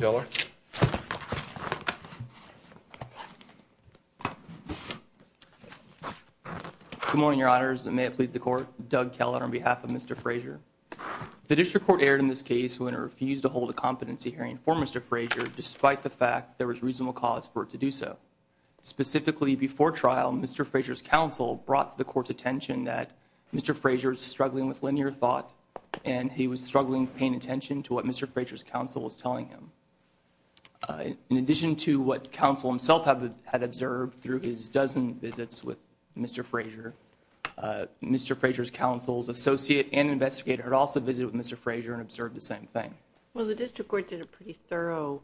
Good morning, Your Honors, and may it please the Court, Doug Keller on behalf of Mr. Frazier. The District Court erred in this case when it refused to hold a competency hearing for Mr. Frazier despite the fact there was reasonable cause for it to do so. Specifically, before trial, Mr. Frazier's counsel brought to the Court's attention that Mr. Frazier was struggling with linear thought and he was struggling paying attention to what Mr. Frazier's counsel was telling him. In addition to what counsel himself had observed through his dozen visits with Mr. Frazier, Mr. Frazier's counsel's associate and investigator had also visited with Mr. Frazier and observed the same thing. Judge Cardone Well, the District Court did a pretty thorough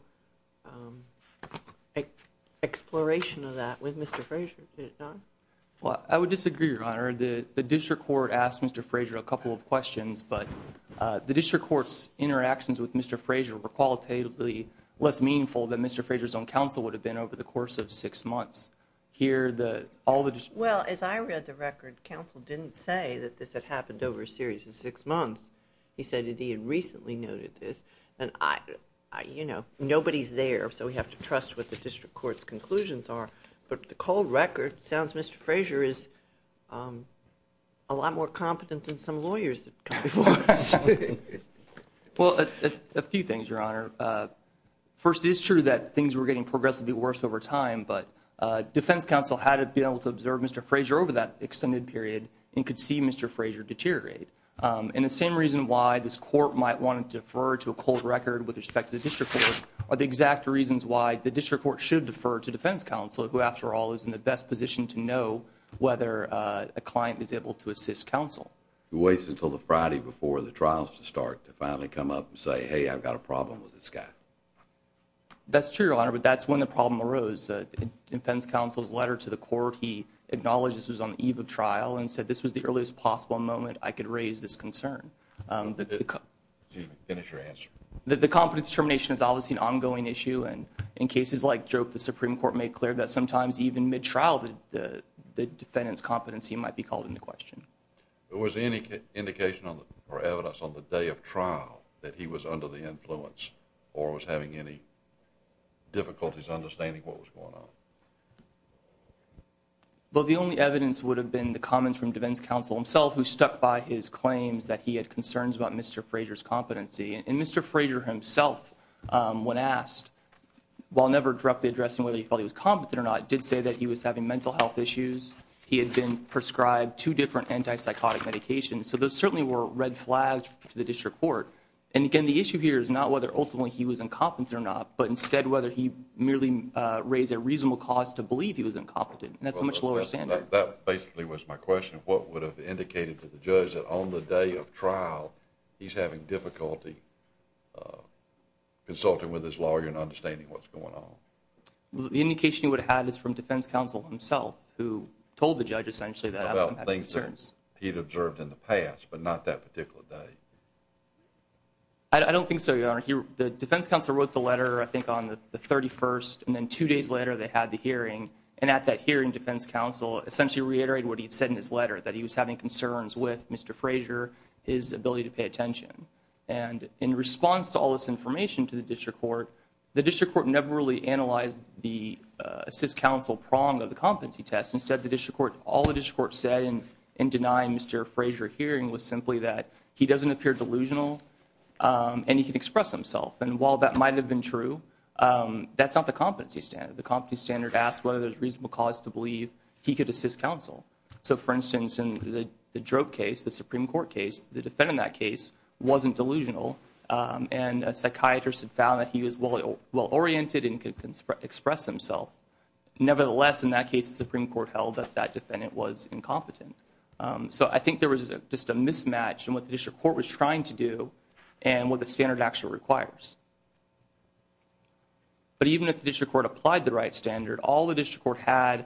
I would disagree, Your Honor. The District Court asked Mr. Frazier a couple of questions, but the District Court's interactions with Mr. Frazier were qualitatively less meaningful than Mr. Frazier's own counsel would have been over the course of six months. Here, all the District Court… Ms. Norton Well, as I read the record, counsel didn't say that this had happened over a series of six months. He said that he had recently noted this, and, you know, nobody's there, so we have to trust what the District Court's Mr. Frazier is a lot more competent than some lawyers that come before us. Judge Cardone Well, a few things, Your Honor. First, it's true that things were getting progressively worse over time, but defense counsel had been able to observe Mr. Frazier over that extended period and could see Mr. Frazier deteriorate. And the same reason why this court might want to defer to a cold record with respect to the District Court are the exact reasons why the District Court should defer to defense counsel, who, after all, is in the best position to know whether a client is able to assist Mr. Frazier He waits until the Friday before the trials to start to finally come up and say, hey, I've got a problem with this guy. Judge Cardone That's true, Your Honor, but that's when the problem arose. In defense counsel's letter to the court, he acknowledged this was on the eve of trial and said this was the earliest possible moment I could raise this concern. Mr. Frazier Excuse me. Finish your answer. Judge Cardone The competence termination is obviously an issue there that sometimes even mid-trial, the defendant's competency might be called into question. Mr. Frazier Was there any indication or evidence on the day of trial that he was under the influence or was having any difficulties understanding what was going on? Judge Cardone Well, the only evidence would have been the comments from defense counsel himself, who stuck by his claims that he had concerns about Mr. Frazier's competency. And Mr. Frazier himself, when asked, while never directly addressing whether he felt he was competent or not, did say that he was having mental health issues. He had been prescribed two different anti-psychotic medications. So those certainly were red flags for the district court. And again, the issue here is not whether ultimately he was incompetent or not, but instead whether he merely raised a reasonable cause to believe he was incompetent. And that's a much lower standard. Mr. Frazier That basically was my question. What would have indicated to the judge that on the day of trial, he's having difficulty consulting with his lawyer and understanding what's going on? Judge Cardone The indication he would have had is from defense counsel himself, who told the judge essentially that he had concerns. Mr. Frazier About things that he'd observed in the past, but not that particular day. Judge Cardone I don't think so, Your Honor. The defense counsel wrote the letter, I think, on the 31st. And then two days later, they had the hearing. And at that hearing, defense counsel essentially reiterated what he had said in his letter, that he was having concerns with Mr. Frazier, his ability to pay attention. And in response to all this information to the district court, the district court never really analyzed the assist counsel prong of the competency test. Instead, all the district court said in denying Mr. Frazier a hearing was simply that he doesn't appear delusional and he can express himself. And while that might have been true, that's not the competency standard. The competency standard asks whether there's a reasonable cause to believe he could assist counsel. So, for instance, in the Drogue case, the Supreme Court case, the defendant in that case wasn't delusional. And a psychiatrist had found that he was well-oriented and could express himself. Nevertheless, in that case, the Supreme Court held that that defendant was incompetent. So I think there was just a mismatch in what the district court was trying to do and what the standard actually requires. But even if the district court applied the right standard, all the district court had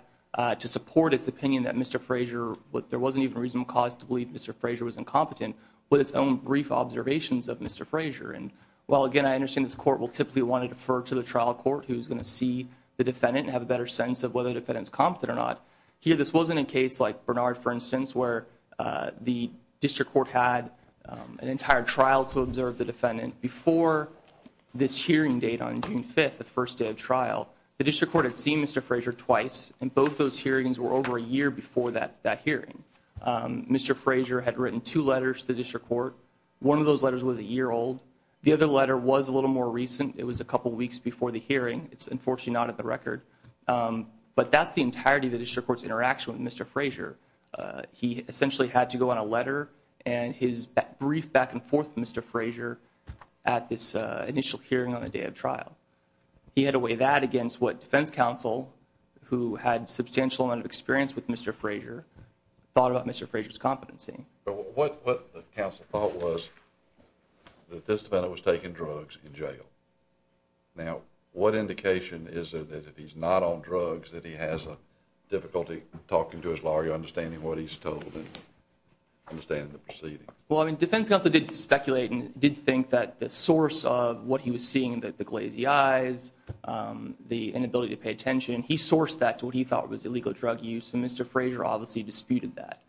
to support its opinion that Mr. Frazier, there wasn't even a reasonable cause to believe Mr. Frazier was incompetent, with its own brief observations of Mr. Frazier. And, well, again, I understand this court will typically want to defer to the trial court who's going to see the defendant and have a better sense of whether the defendant's competent or not. Here, this wasn't a case like Bernard, for instance, where the district court had an entire trial to observe the defendant before this hearing date on June 5th, the first day of trial. The district court had seen Mr. Frazier twice, and both those hearings were over a year before that hearing. Mr. Frazier had written two letters to the district court. One of those letters was a year old. The other letter was a little more recent. It was a couple weeks before the hearing. It's unfortunately not at the record. But that's the entirety of the district court's interaction with Mr. Frazier. He essentially had to go on a letter and his brief back and forth with Mr. Frazier at this initial hearing on the day of trial. He had to weigh that against what defense counsel, who had substantial amount of experience with Mr. Frazier, thought about Mr. Frazier's competency. What counsel thought was that this defendant was taking drugs in jail. Now, what indication is there that if he's not on drugs that he has difficulty talking to his lawyer, understanding what he's told and understanding the proceedings? Well, I mean, defense counsel did speculate and did think that the source of what he was seeing, the glazy eyes, the inability to pay attention, he sourced that to what he thought was illegal drug use. And Mr. Frazier obviously disputed that.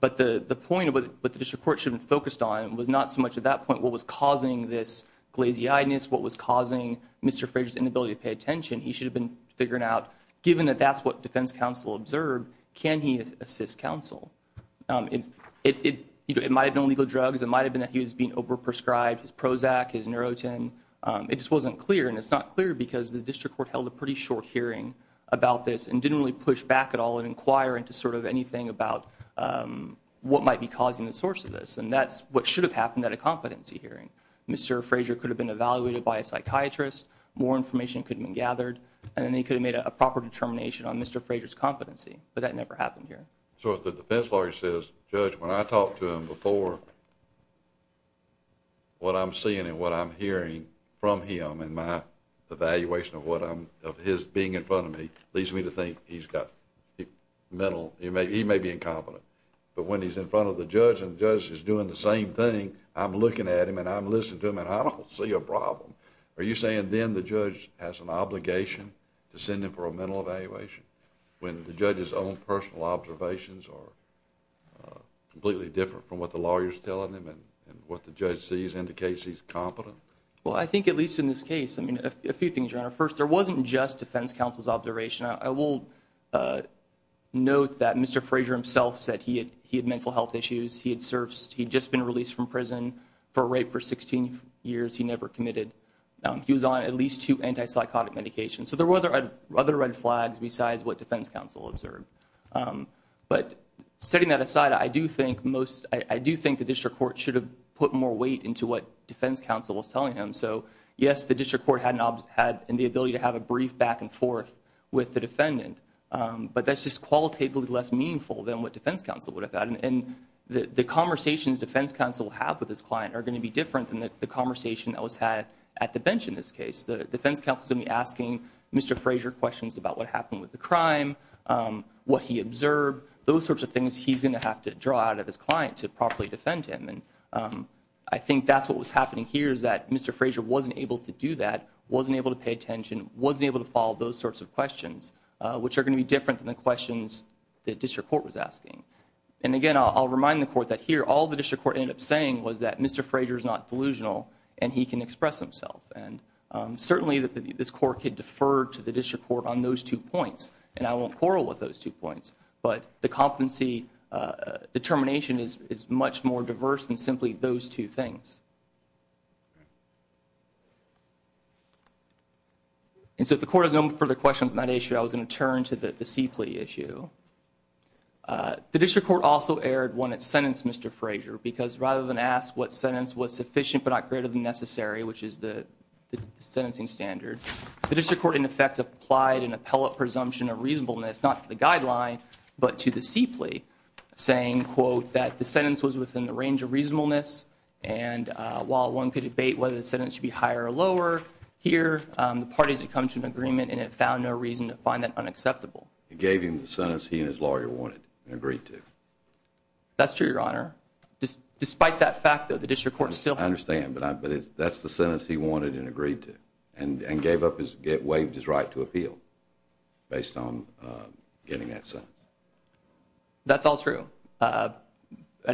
But the point of what the district court should have focused on was not so much at that point what was causing this glazy eyedness, what was causing Mr. Frazier's inability to pay attention. He should have been figuring out given that that's what defense counsel observed, can he assist counsel? It might have been illegal drugs. It might have been that he was being over prescribed his Prozac, his Neurotin. It just wasn't clear. And it's not clear because the district court held a pretty short hearing about this and didn't really push back at all and inquire into sort of anything about what might be causing the source of this. And that's what should have happened at a competency hearing. Mr. Frazier could have been evaluated by a psychiatrist. More information could have been gathered. And then they could have made a proper determination on Mr. Frazier's competency. But that never happened here. So if the defense lawyer says, Judge, when I talked to him before, what I'm seeing and what I'm hearing from him and my evaluation of his being in front of me, leads me to think he's got mental, he may be incompetent. But when he's in front of the judge and the judge is doing the same thing, I'm looking at him and I'm listening to him and I don't see a problem. Are you saying then the judge has an obligation to send him for a mental evaluation when the judge's own personal observations are completely different from what the lawyer's telling him and what the judge sees indicates he's competent? Well, I think at least in this case, I mean, a few things, Your Honor. First, there wasn't just defense counsel's observation. I will note that Mr. Frazier himself said he had mental health issues. He had just been released from prison for rape for 16 years. He never committed. He was on at least two antipsychotic medications. So there were other red flags besides what defense counsel observed. But setting that court should have put more weight into what defense counsel was telling him. So, yes, the district court had not had the ability to have a brief back and forth with the defendant. But that's just qualitatively less meaningful than what defense counsel would have gotten. And the conversations defense counsel have with his client are going to be different than the conversation that was had at the bench in this case. The defense counsel is going to be asking Mr. Frazier questions about what happened with the crime, what he observed, those sorts of things he's going to have to draw out of his client to properly defend him. And I think that's what was happening here is that Mr. Frazier wasn't able to do that, wasn't able to pay attention, wasn't able to follow those sorts of questions, which are going to be different than the questions the district court was asking. And again, I'll remind the court that here, all the district court ended up saying was that Mr. Frazier is not delusional and he can express himself. And certainly this court could defer to the district court on those two points. And I won't quarrel with those two points. But the competency determination is much more diverse than simply those two things. And so if the court has no further questions on that issue, I was going to turn to the C plea issue. The district court also erred when it sentenced Mr. Frazier, because rather than ask what sentence was sufficient but not greater than necessary, which is the sentencing standard, the district court in effect applied an appellate presumption of reasonableness not to the guideline, but to the C plea, saying, quote, that the sentence was within the range of reasonableness. And while one could debate whether the sentence should be higher or lower here, the parties had come to an agreement and it found no reason to find that unacceptable. It gave him the sentence he and his lawyer wanted and agreed to. That's true, Your Honor. Despite that fact, though, the district court still I understand, but that's the sentence he wanted and agreed to and gave up, waived his right to appeal based on getting that sentence. That's all true. At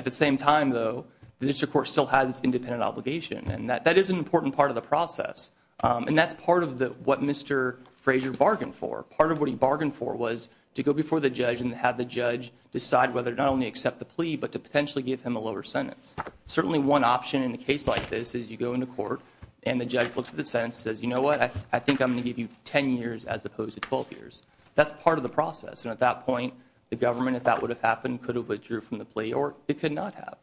the same time, though, the district court still has independent obligation. And that is an important part of the process. And that's part of what Mr. Frazier bargained for. Part of what he bargained for was to go before the judge and have the judge decide whether to not only accept the plea but to potentially give him a lower sentence. Certainly one option in a case like this is you go into court and the judge looks at the sentence and says, you know what, I think I'm going to give you 10 years as opposed to 12 years. That's part of the process. And at that point, the government, if that would have happened, could have withdrew from the plea or it could not have.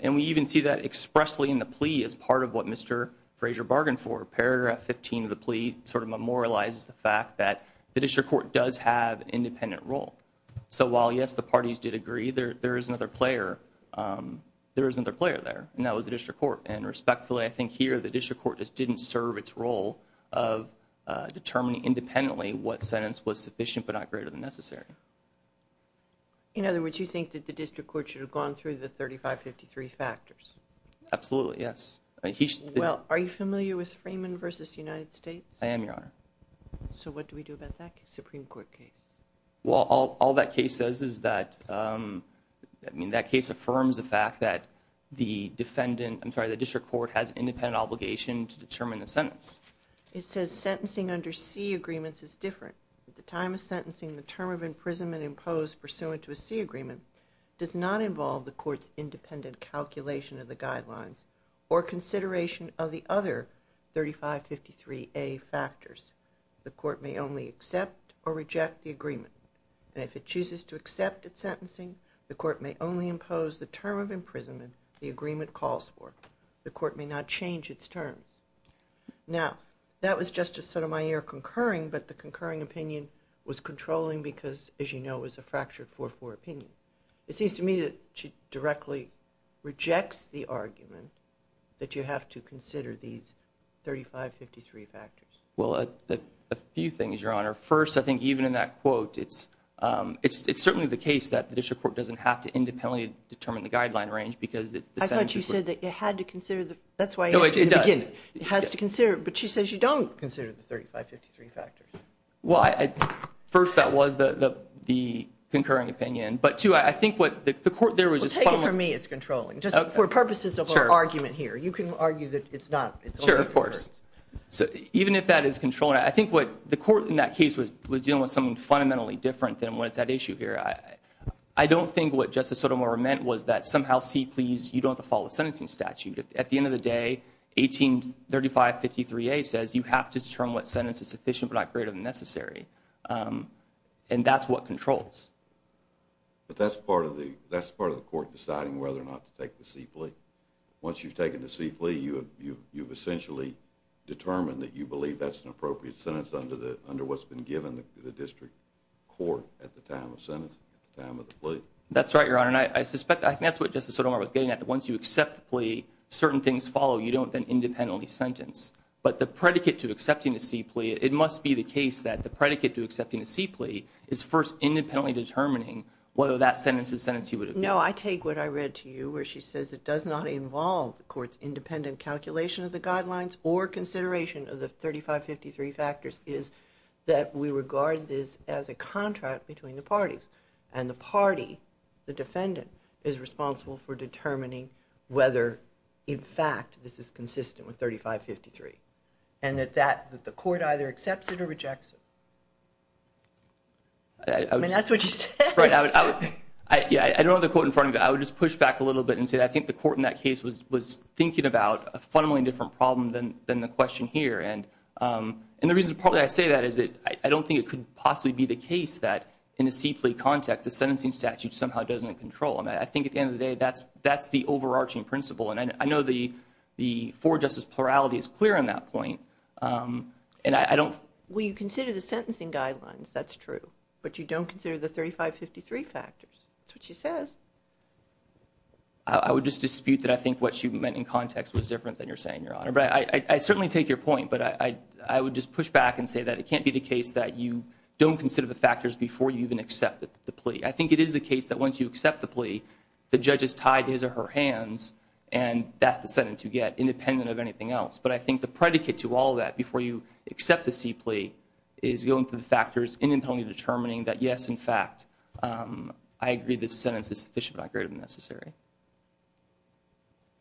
And we even see that expressly in the plea as part of what Mr. Frazier bargained for. Paragraph 15 of the plea sort of memorializes the fact that the district court does have an independent role. So while, yes, the parties did agree, there is another player. There is another player there and that was the district court. And respectfully, I think here the district court was able to determine independently what sentence was sufficient but not greater than necessary. In other words, you think that the district court should have gone through the 3553 factors? Absolutely, yes. Well, are you familiar with Freeman v. United States? I am, Your Honor. So what do we do about that Supreme Court case? Well, all that case says is that, I mean, that case affirms the fact that the defendant, I'm sorry, the district court has an independent obligation to determine the sentence. It says sentencing under C agreements is different. At the time of sentencing, the term of imprisonment imposed pursuant to a C agreement does not involve the court's independent calculation of the guidelines or consideration of the other 3553A factors. The court may only accept or reject the agreement. And if it chooses to accept its sentencing, the court may only impose the term of imprisonment the agreement calls for. The court may not change its terms. Now, that was just to set on my ear concurring, but the concurring opinion was controlling because, as you know, it was a fractured 4-4 opinion. It seems to me that she directly rejects the argument that you have to consider these 3553 factors. Well, a few things, Your Honor. First, I think even in that quote, it's certainly the case that the district court doesn't have to independently determine the sentencing. I thought you said that you had to consider the, that's why I asked you to begin. It has to consider, but she says you don't consider the 3553 factors. Well, first, that was the concurring opinion, but two, I think what the court, there was just. Well, take it from me, it's controlling. Just for purposes of our argument here, you can argue that it's not. Sure, of course. So even if that is controlling, I think what the court in that case was dealing with something fundamentally different than what's at issue here. I don't think what Justice Sotomayor is saying is that you have to determine what sentence is sufficient, but not greater than necessary. And that's what controls. But that's part of the court deciding whether or not to take the C-Plea. Once you've taken the C-Plea, you've essentially determined that you believe that's an appropriate sentence under what's been given to the district court at the time of getting that. Once you accept the plea, certain things follow. You don't then independently sentence. But the predicate to accepting the C-Plea, it must be the case that the predicate to accepting the C-Plea is first independently determining whether that sentence is sentencing. No, I take what I read to you where she says it does not involve the court's independent calculation of the guidelines or consideration of the 3553 factors is that we regard this as a contract between the parties. And the party, the defendant, is responsible for determining whether, in fact, this is consistent with 3553. And that the court either accepts it or rejects it. I mean, that's what she says. Right. I don't have the quote in front of me, but I would just push back a little bit and say I think the court in that case was thinking about a fundamentally different problem than the question here. And the reason partly I say that is that I don't think it could possibly be the case that in a C-Plea context, the sentencing statute somehow doesn't control. And I think at the end of the day, that's the overarching principle. And I know the for justice plurality is clear on that point. And I don't... Well, you consider the sentencing guidelines. That's true. But you don't consider the 3553 factors. That's what she says. I would just dispute that I think what she meant in context was different than you're saying, Your Honor. But I certainly take your point. But I would just push back and say that can't be the case that you don't consider the factors before you even accept the plea. I think it is the case that once you accept the plea, the judge is tied to his or her hands. And that's the sentence you get, independent of anything else. But I think the predicate to all of that before you accept the C-Plea is going through the factors independently determining that, yes, in fact, I agree this sentence is sufficient but not great and necessary.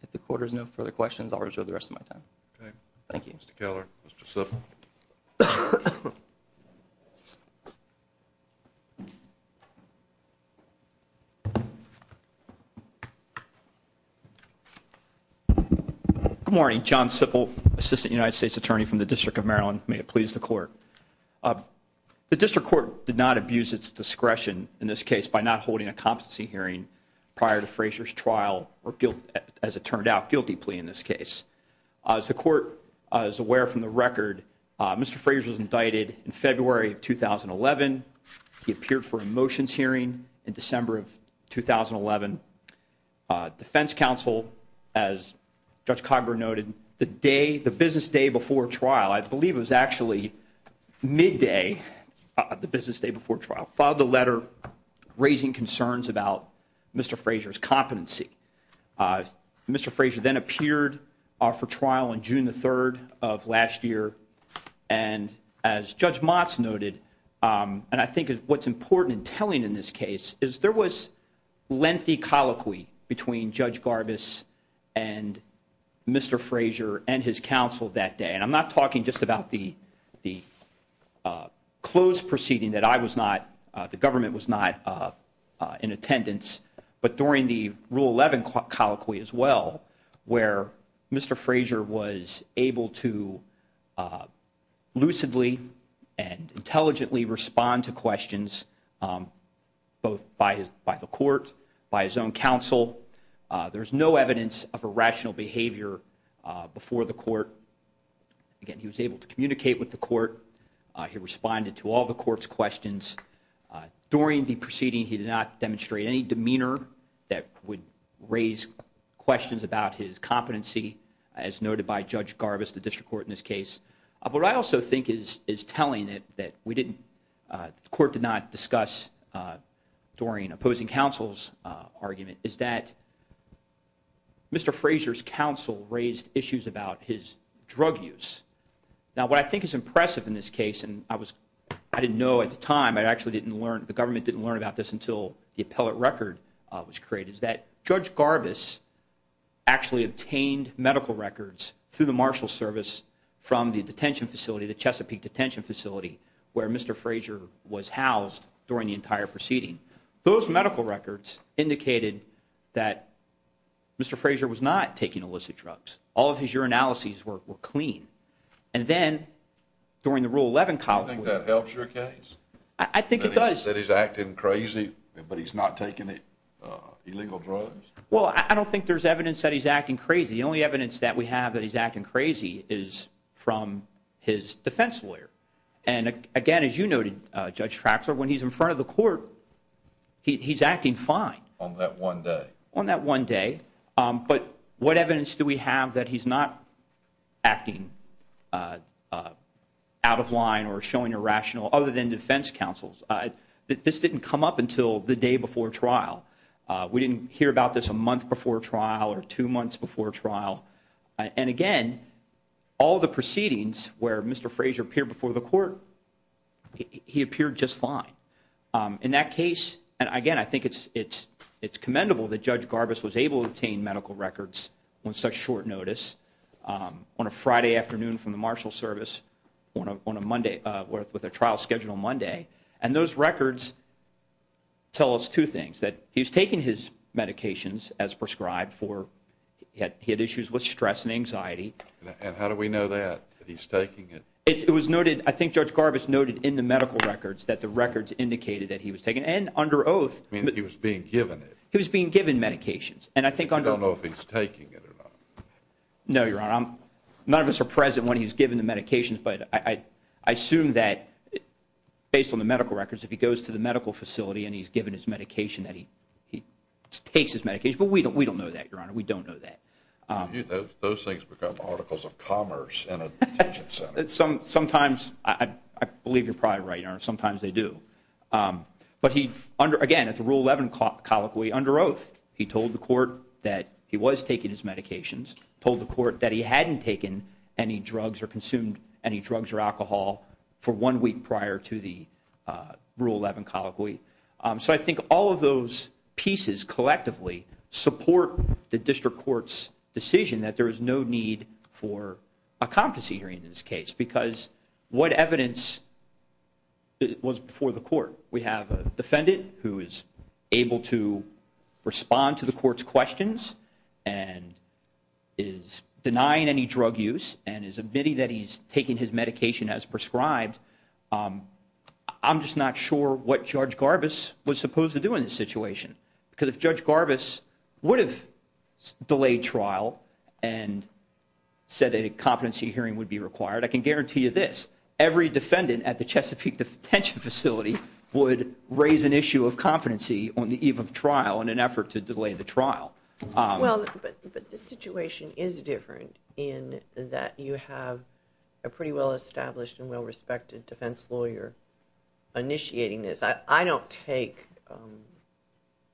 If the court has no further questions, I'll reserve the rest of my time. Okay. Thank you. Mr. Keller. Mr. Suffolk. Good morning. John Suffolk, Assistant United States Attorney from the District of Maryland. May it please the Court. The District Court did not abuse its discretion in this case by not holding a competency hearing prior to Frazier's trial or, as it turned out, in February of 2011. He appeared for a motions hearing in December of 2011. Defense counsel, as Judge Cogburn noted, the business day before trial, I believe it was actually midday of the business day before trial, filed a letter raising concerns about Mr. Frazier's competency. Mr. Frazier then appeared for trial on June the 3rd of last year. And as Judge Motz noted, and I think what's important in telling in this case, is there was lengthy colloquy between Judge Garbus and Mr. Frazier and his counsel that day. And I'm not talking just about the closed proceeding that I was not, the government was not in attendance, but during the Rule 11 colloquy as well, where Mr. Frazier was able to lucidly and intelligently respond to questions both by the court, by his own counsel. There's no evidence of irrational behavior before the court. Again, he was able to communicate with the court. He responded to all the court's questions. During the proceeding, he did not demonstrate any demeanor that would raise questions about his competency, as noted by Judge Garbus, the district court in this case. What I also think is telling that the court did not discuss during opposing counsel's argument is that Mr. Frazier's counsel raised issues about his drug use. Now, what I think is impressive in this case, and I didn't know at the time, the government didn't learn about this until the appellate record was created, is that Judge Garbus actually obtained medical records through the marshal service from the detention facility, the Chesapeake detention facility, where Mr. Frazier was housed during the entire proceeding. Those medical records indicated that Mr. Frazier was not taking illicit drugs. All of his urinalyses were clean. Then, during the Rule 11 college- I think that helps your case. I think it does. That he's acting crazy, but he's not taking illegal drugs. Well, I don't think there's evidence that he's acting crazy. The only evidence that we have that he's acting crazy is from his defense lawyer. Again, as you noted, Judge Traxler, when he's in front of the court, he's acting fine. On that one day. On that one day. But what evidence do we have that he's not acting out of line or showing irrational other than defense counsels? This didn't come up until the day before trial. We didn't hear about this a month before trial or two months before trial. And again, all the proceedings where Mr. Frazier appeared before the court, he appeared just fine. In that case, and again, I think it's commendable that Judge Garbus was able to obtain medical records on such short notice on a Friday afternoon from the marshal service with a trial scheduled on Monday. And those records tell us two things. That he's taking his medications as prescribed. He had issues with stress and anxiety. And how do we know that, that he's taking it? It was noted, I think Judge Garbus noted in the medical records that the records indicated that he was taking and under oath. I mean, he was being given it. He was being given medications. And I think I don't know if he's taking it or not. No, Your Honor. None of us are present when he's given the medications, but I assume that based on the medical records, if he goes to the medical facility and he's given his medication, that he takes his medication. But we don't know that, Your Honor. We don't know that. Those things become articles of commerce in a detention center. Sometimes, I believe you're probably right, Your Honor. Sometimes they do. But he, again, at the Rule 11 colloquy, under oath, he told the court that he was taking his medications. Told the court that he hadn't taken any drugs or consumed any drugs or alcohol for one week prior to the Rule 11 colloquy. So I think all of those pieces collectively support the district court's decision that there is no need for a confiscatory in this case. Because what evidence was before the court? We have a defendant who is able to respond to the court's questions and is denying any drug use and is admitting that he's taking his medication as prescribed. I'm just not sure what Judge Garbus was supposed to do in this would have delayed trial and said a competency hearing would be required. I can guarantee you this. Every defendant at the Chesapeake detention facility would raise an issue of competency on the eve of trial in an effort to delay the trial. Well, but the situation is different in that you have a pretty well-established and well-respected defense lawyer initiating this. I don't take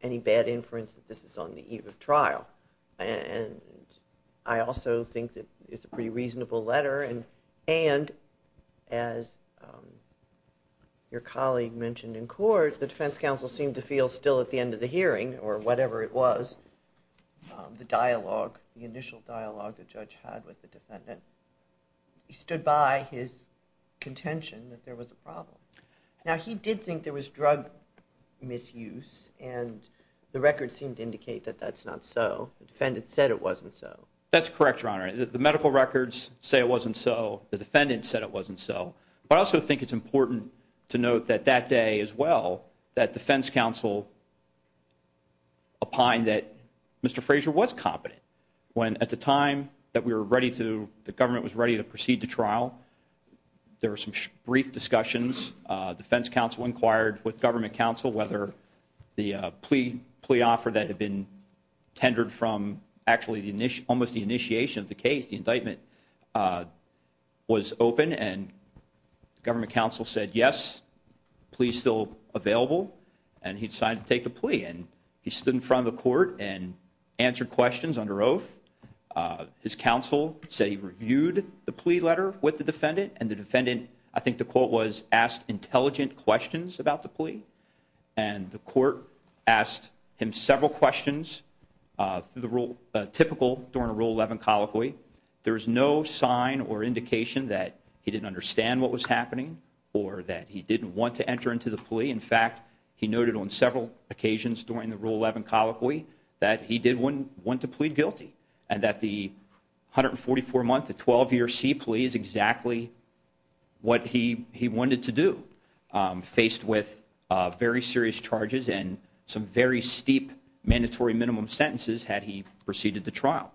any bad inference that this is on the eve of trial and I also think that it's a pretty reasonable letter and as your colleague mentioned in court, the defense counsel seemed to feel still at the end of the hearing or whatever it was, the dialogue, the initial dialogue the judge had with the defendant, he stood by his contention that there was a problem. Now he did think there was drug misuse and the record seemed to indicate that that's not so. The defendant said it wasn't so. That's correct, your honor. The medical records say it wasn't so. The defendant said it wasn't so. But I also think it's important to note that that day as well, that defense counsel opined that Mr. Frazier was competent when at the time that we were ready to, the government was ready to proceed to trial. There were some brief discussions. Defense counsel inquired with government counsel whether the plea offer that had been tendered from actually almost the initiation of the case, the indictment, was open and government counsel said, yes, plea is still available and he decided to take the plea and he stood in front of the court and answered questions under oath. His counsel said he reviewed the plea letter with the defendant and the defendant, I think the quote was, asked intelligent questions about the plea and the court asked him several questions through the rule, typical during a Rule 11 colloquy. There was no sign or indication that he didn't understand what was happening or that he didn't want to enter into the plea. In fact, he noted on several occasions during the Rule 11 colloquy that he did want to plead guilty and that the 144-month, the 12-year sea plea is exactly what he wanted to do, faced with very serious charges and some very steep mandatory minimum sentences had he proceeded to trial.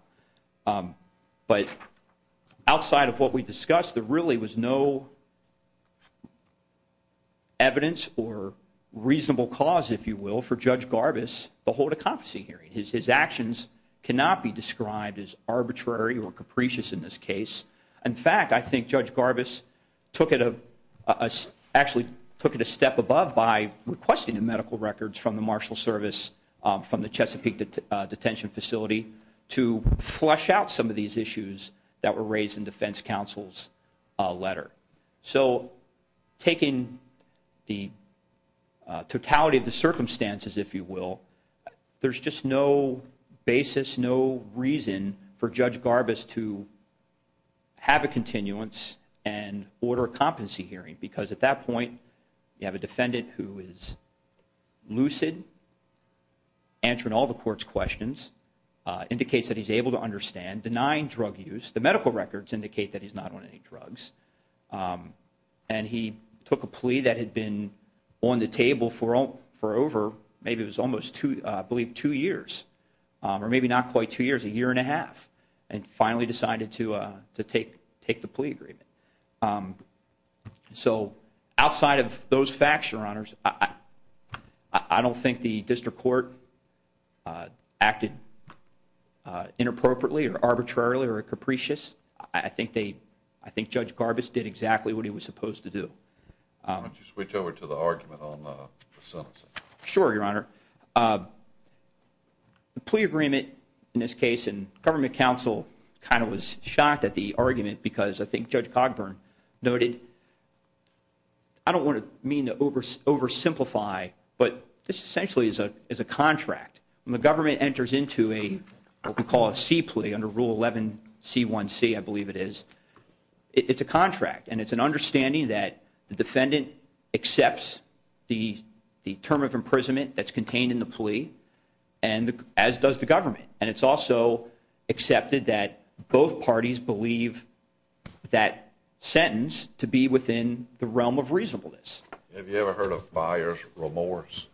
But outside of what we discussed, there really was no evidence or reasonable cause, if you will, for Judge Garbus, to hold a conferencing hearing. His actions cannot be described as arbitrary or capricious in this case. In fact, I think Judge Garbus took it, actually took it a step above by requesting the medical records from the Marshal Service, from the Chesapeake Detention Facility, to flesh out some of these issues that were raised in defense counsel's letter. So, taking the totality of the circumstances, if you will, there's just no basis, no reason for Judge Garbus to have a continuance and order a competency hearing because at that point, you have a defendant who is lucid, answering all the court's questions, indicates that he's able to understand, denying drug use, the medical records indicate that he's not on any drugs, and he took a plea that had been on the table for over, maybe it was almost two, I believe two years, or maybe not quite two years, a year and a half, and finally decided to take the plea agreement. So, outside of those facts, Your Honors, I don't think the district court acted inappropriately or arbitrarily or capricious. I think they, I think Judge Garbus did exactly what he was supposed to do. Why don't you switch over to the argument on the sentencing? Sure, Your Honor. The plea agreement in this case, and government counsel kind of was shocked at the oversimplify, but this essentially is a contract. When the government enters into what we call a C plea under Rule 11C1C, I believe it is, it's a contract, and it's an understanding that the defendant accepts the term of imprisonment that's contained in the plea, as does the government, and it's also accepted that both parties believe that sentence to be within the realm of reasonableness. Have you ever heard of buyer's remorse?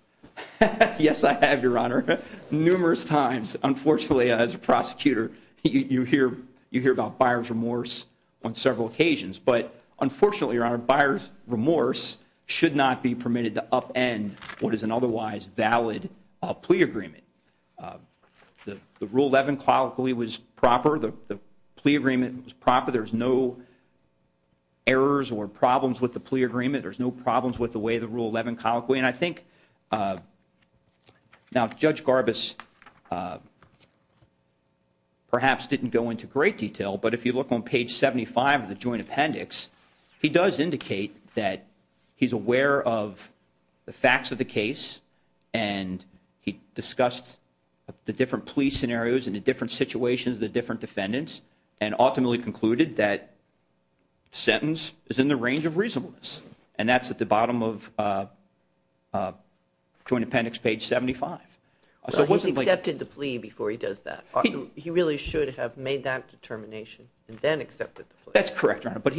Yes, I have, Your Honor, numerous times. Unfortunately, as a prosecutor, you hear about buyer's remorse on several occasions, but unfortunately, Your Honor, buyer's remorse should not be permitted to upend what is an otherwise valid plea agreement. The Rule 11 qualically was proper. The plea agreement was proper. There's no errors or problems with the way the Rule 11 colloquially, and I think, now Judge Garbus perhaps didn't go into great detail, but if you look on page 75 of the joint appendix, he does indicate that he's aware of the facts of the case, and he discussed the different plea scenarios, and the different situations, the different defendants, and ultimately concluded that sentence is in the range of reasonableness, and that's at the bottom of joint appendix page 75. So he's accepted the plea before he does that. He really should have made that determination and then accepted the plea. That's correct, Your Honor, but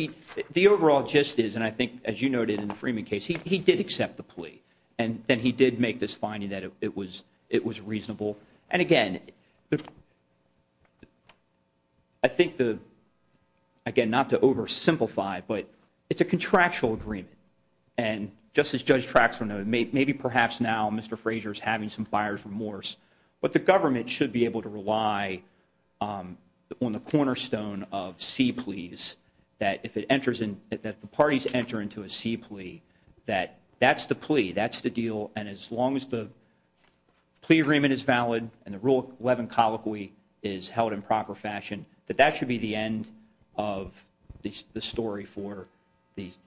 the overall gist is, and I think as you noted in the Freeman case, he did accept the plea, and then he did make this finding that it was reasonable, and again, I think the, again, not to oversimplify, but it's a contractual agreement, and just as Judge Traxler noted, maybe perhaps now Mr. Fraser is having some buyer's remorse, but the government should be able to rely on the cornerstone of C pleas, that if it enters in, that the parties enter into a C plea, that that's the plea, that's the deal, and as long as the plea agreement is rule 11 colloquy is held in proper fashion, that that should be the end of the story for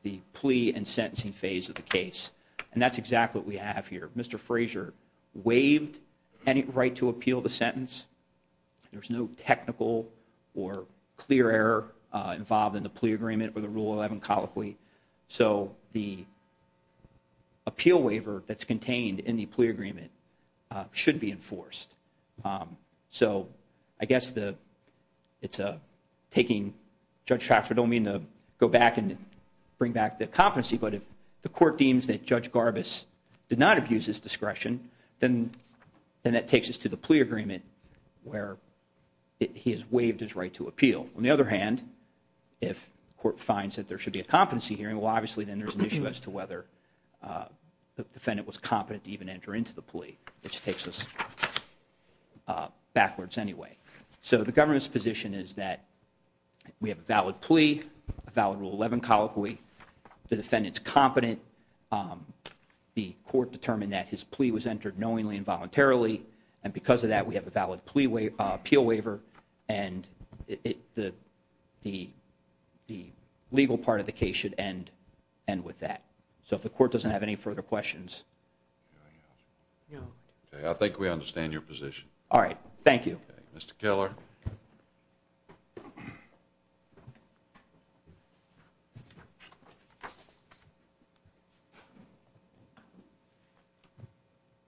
the plea and sentencing phase of the case, and that's exactly what we have here. Mr. Fraser waived any right to appeal the sentence. There's no technical or clear error involved in the plea agreement with the rule 11 colloquy, so the appeal waiver that's contained in the plea agreement should be enforced, so I guess the, it's taking, Judge Traxler don't mean to go back and bring back the competency, but if the court deems that Judge Garbus did not abuse his discretion, then that takes us to the plea agreement where he has waived his right to appeal. On the other hand, if court finds that there should be a competency hearing, well, obviously, then there's an issue as to whether the defendant was competent to even enter into the plea, which takes us backwards anyway, so the government's position is that we have a valid plea, a valid rule 11 colloquy, the defendant's competent, the court determined that his plea was entered knowingly and voluntarily, and because of that, we have a valid appeal waiver, and the legal part of the so if the court doesn't have any further questions. I think we understand your position. All right, thank you. Mr. Keller.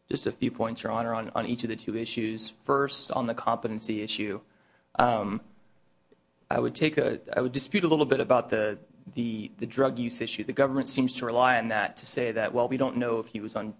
Just a few points, Your Honor, on each of the two issues. First, on the competency issue, I would take a, I would dispute a little bit about the drug use issue. The government seems to rely on that to say that, well, we don't know if he was on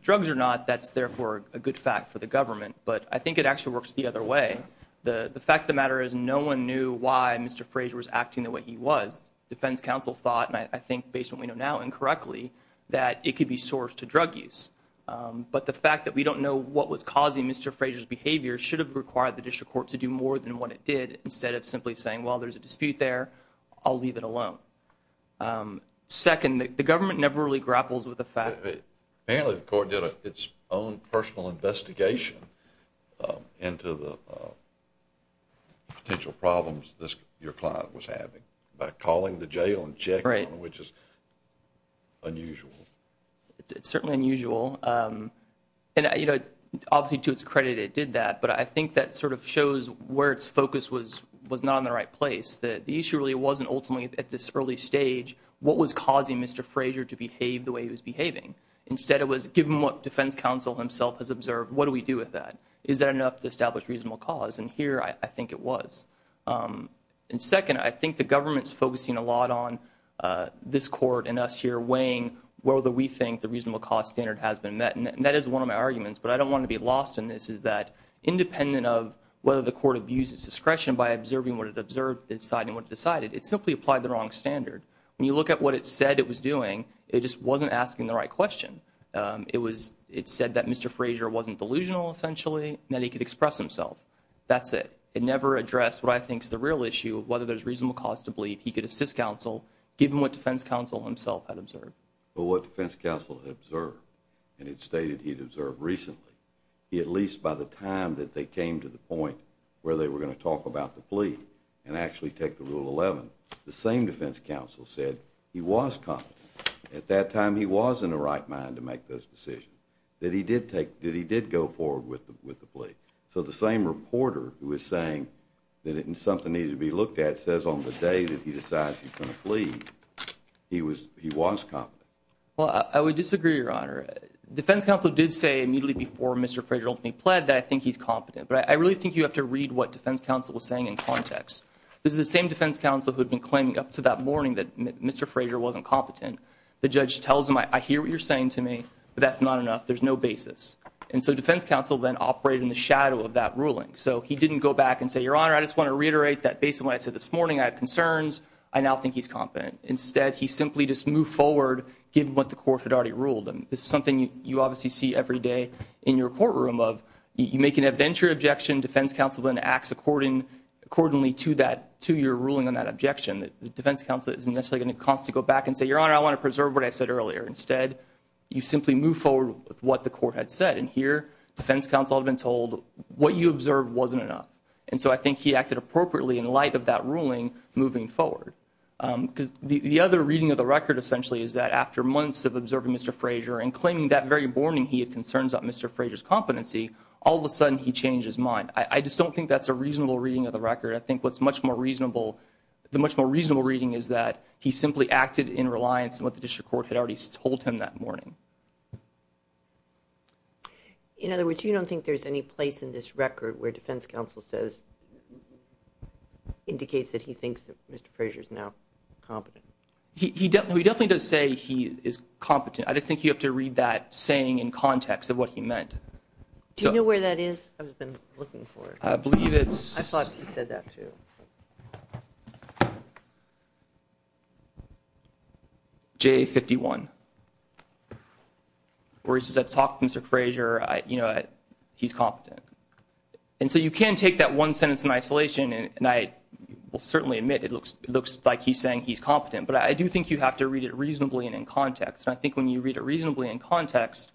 drugs or not. That's therefore a good fact for the government, but I think it actually works the other way. The fact of the matter is no one knew why Mr. Frazier was acting the way he was. Defense counsel thought, and I think based on what we know now incorrectly, that it could be sourced to drug use, but the fact that we don't know what was causing Mr. Frazier's behavior should have required the district court to do more than what it did instead of simply saying, well, there's a dispute there. I'll leave it alone. Second, the government never really grapples with the fact that apparently the court did its own personal investigation into the potential problems this, your client was having by calling the jail and checking, which is unusual. It's certainly unusual. And, you know, obviously to its credit it did that, but I think that sort of shows where its focus was not in the right place, that the issue really wasn't ultimately at this early stage what was causing Mr. Frazier to behave the way he was behaving. Instead it was given what defense counsel himself has observed, what do we do with that? Is that enough to establish reasonable cause? And here I think it was. And second, I think the government's focusing a lot on this court and us here weighing whether we think the reasonable cause standard has been met. And that is one of my arguments, but I don't want to be lost in this, is that independent of whether the court abuses discretion by observing what it observed, deciding what it decided, it simply applied the wrong standard. When you look at what it said it was doing, it just wasn't asking the right question. It said that Mr. Frazier wasn't delusional essentially and that he could express himself. That's it. It never addressed what I think is the real issue of whether there's reasonable cause to believe he could assist counsel given what defense counsel himself had observed. But what defense counsel had observed, and it stated he'd observed recently, at least by the time that they came to the point where they were going to talk about the plea and actually take the Rule 11, the same defense counsel said he was competent. At that time he was in the right mind to make this decision, that he did go forward with the plea. So the same reporter who is saying that something needed to be looked at says on the day that he decides he's going to plead, he was competent. Well, I would disagree, Your Honor. Defense counsel did say immediately before Mr. Frazier ultimately pled that I think he's competent. But I really think you have to read what defense counsel was saying in context. This is the same defense counsel who had been claiming up to that morning that Mr. Frazier wasn't competent. The judge tells him, I hear what you're saying to me, but that's not enough. There's no basis. And so defense counsel then operated in the shadow of that ruling. So he didn't go back and say, Your Honor, I just want to reiterate that based on what I said this morning, I have concerns. I now think he's competent. Instead, he simply just moved forward given what the court had already ruled. This is something you obviously see every day in your courtroom of, you make an evidentiary objection, defense counsel then acts accordingly to your ruling on that objection. The defense counsel isn't necessarily going to constantly go back and say, Your Honor, I want to preserve what I said earlier. Instead, you simply move forward with what the court had said. And here, defense counsel had been told what you observed wasn't enough. And so I think he acted appropriately in light of that ruling moving forward. Because the other reading of the record essentially is that after months of observing Mr. Frazier and claiming that very morning he had concerns about Mr. Frazier's competency, all of a sudden he changed his mind. I just don't think that's a reasonable reading of the record. I think what's much more reasonable, the much more reasonable reading is that he simply acted in reliance on what the district court had already told him that morning. In other words, you don't think there's any place in this record where defense counsel says, indicates that he thinks that Mr. Frazier is now competent. He definitely does say he is competent. I just think you have to read that saying in context of what he meant. Do you know where that is? I've been looking for it. I believe it's... I thought he said that too. J51. Where he says, I talked to Mr. Frazier, you know, he's competent. And so you can't take that one sentence in isolation. And I will certainly admit it looks like he's saying he's competent. But I do think you have to read it reasonably and in context. I think when you read it reasonably in context,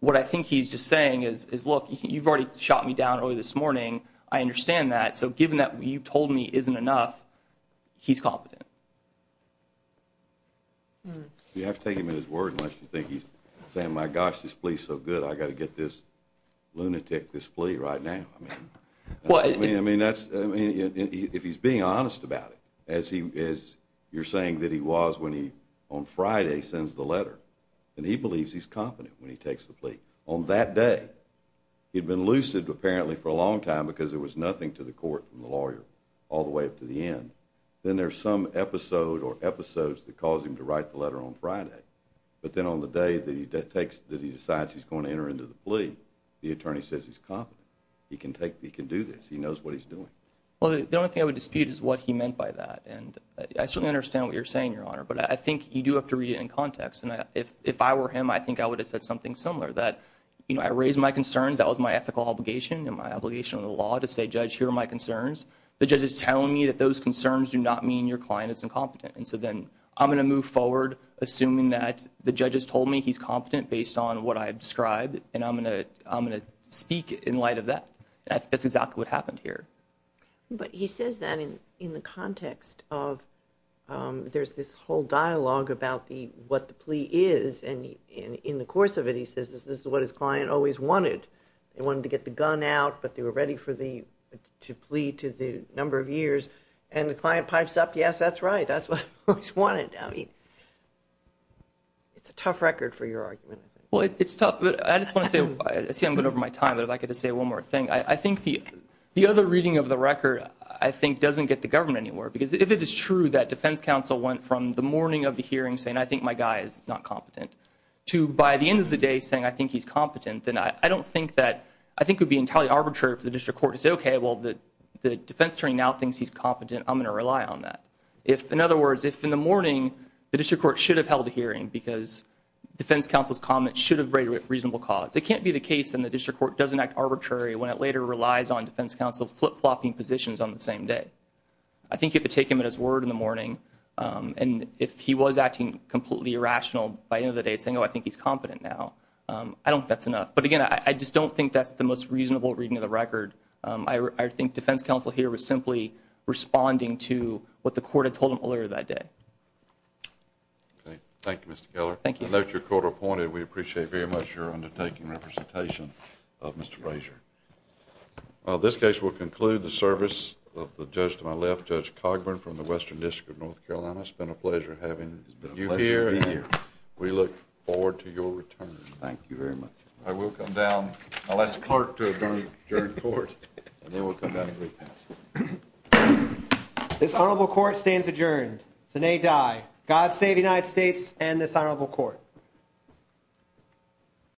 what I think he's just saying is, look, you've already shot me down early this morning. I understand that. So given that you've told me isn't enough, he's competent. You have to take him in his word unless you think he's saying, my gosh, this plea's so good, I got to get this lunatic, this plea right now. I mean, if he's being honest about it, as you're saying that he was when he, on Friday, sends the letter. And he believes he's competent when he takes the plea. On that day, he'd been lucid apparently for a long time because there was nothing to the court from the lawyer all the way up to the end. Then there's some episode or episodes that cause him to write the letter on Friday. But then on the day that he takes, that he decides he's going to enter into the plea, the attorney says he's competent. He can take, he can do this. He knows what he's doing. Well, the only thing I would dispute is what he meant by that. And I certainly understand what you're saying, Your Honor. But I think you do have to read it in context. And if I were him, I think I would have said something similar. That I raised my concerns, that was my ethical obligation and my obligation of the law to say, Judge, here are my concerns. The judge is telling me that those concerns do not mean your client is incompetent. And so then I'm going to move forward assuming that the judge has told me he's competent based on what I described. And I'm going to speak in light of that. That's exactly what happened here. But he says that in the context of there's this whole dialogue about what the plea is. And in the course of it, he says this is what his client always wanted. They wanted to get the gun out, but they were ready to plea to the number of years. And the client pipes up, yes, that's right. That's what he's wanted. I mean, it's a tough record for your argument. Well, it's tough. But I just want to say, I see I'm going over my time. But if I could just say one more thing. I think the other reading of the record, I think, doesn't get the government anywhere. Because if it is true that defense counsel went from the morning of the hearing saying, I think my guy is not competent, to by the end of the day saying, I think he's competent, then I don't think that, I think it would be entirely arbitrary for the district court to say, OK, well, the defense attorney now thinks he's competent. I'm going to rely on that. If, in other words, if in the morning the district court should have held a hearing because defense counsel's comments should have raised reasonable cause, it can't be the case that the when it later relies on defense counsel flip-flopping positions on the same day. I think you have to take him at his word in the morning. And if he was acting completely irrational by the end of the day saying, oh, I think he's competent now, I don't think that's enough. But again, I just don't think that's the most reasonable reading of the record. I think defense counsel here was simply responding to what the court had told him earlier that day. That's your court appointed. We appreciate very much your undertaking representation of Mr. Frazier. This case will conclude the service of the judge to my left, Judge Cogburn from the Western District of North Carolina. It's been a pleasure having you here and we look forward to your return. Thank you very much. I will come down. I'll ask Clark to adjourn court and then we'll come back and re-pass. This honorable court stands adjourned. Sinead Dye, God save the United States and this honorable court.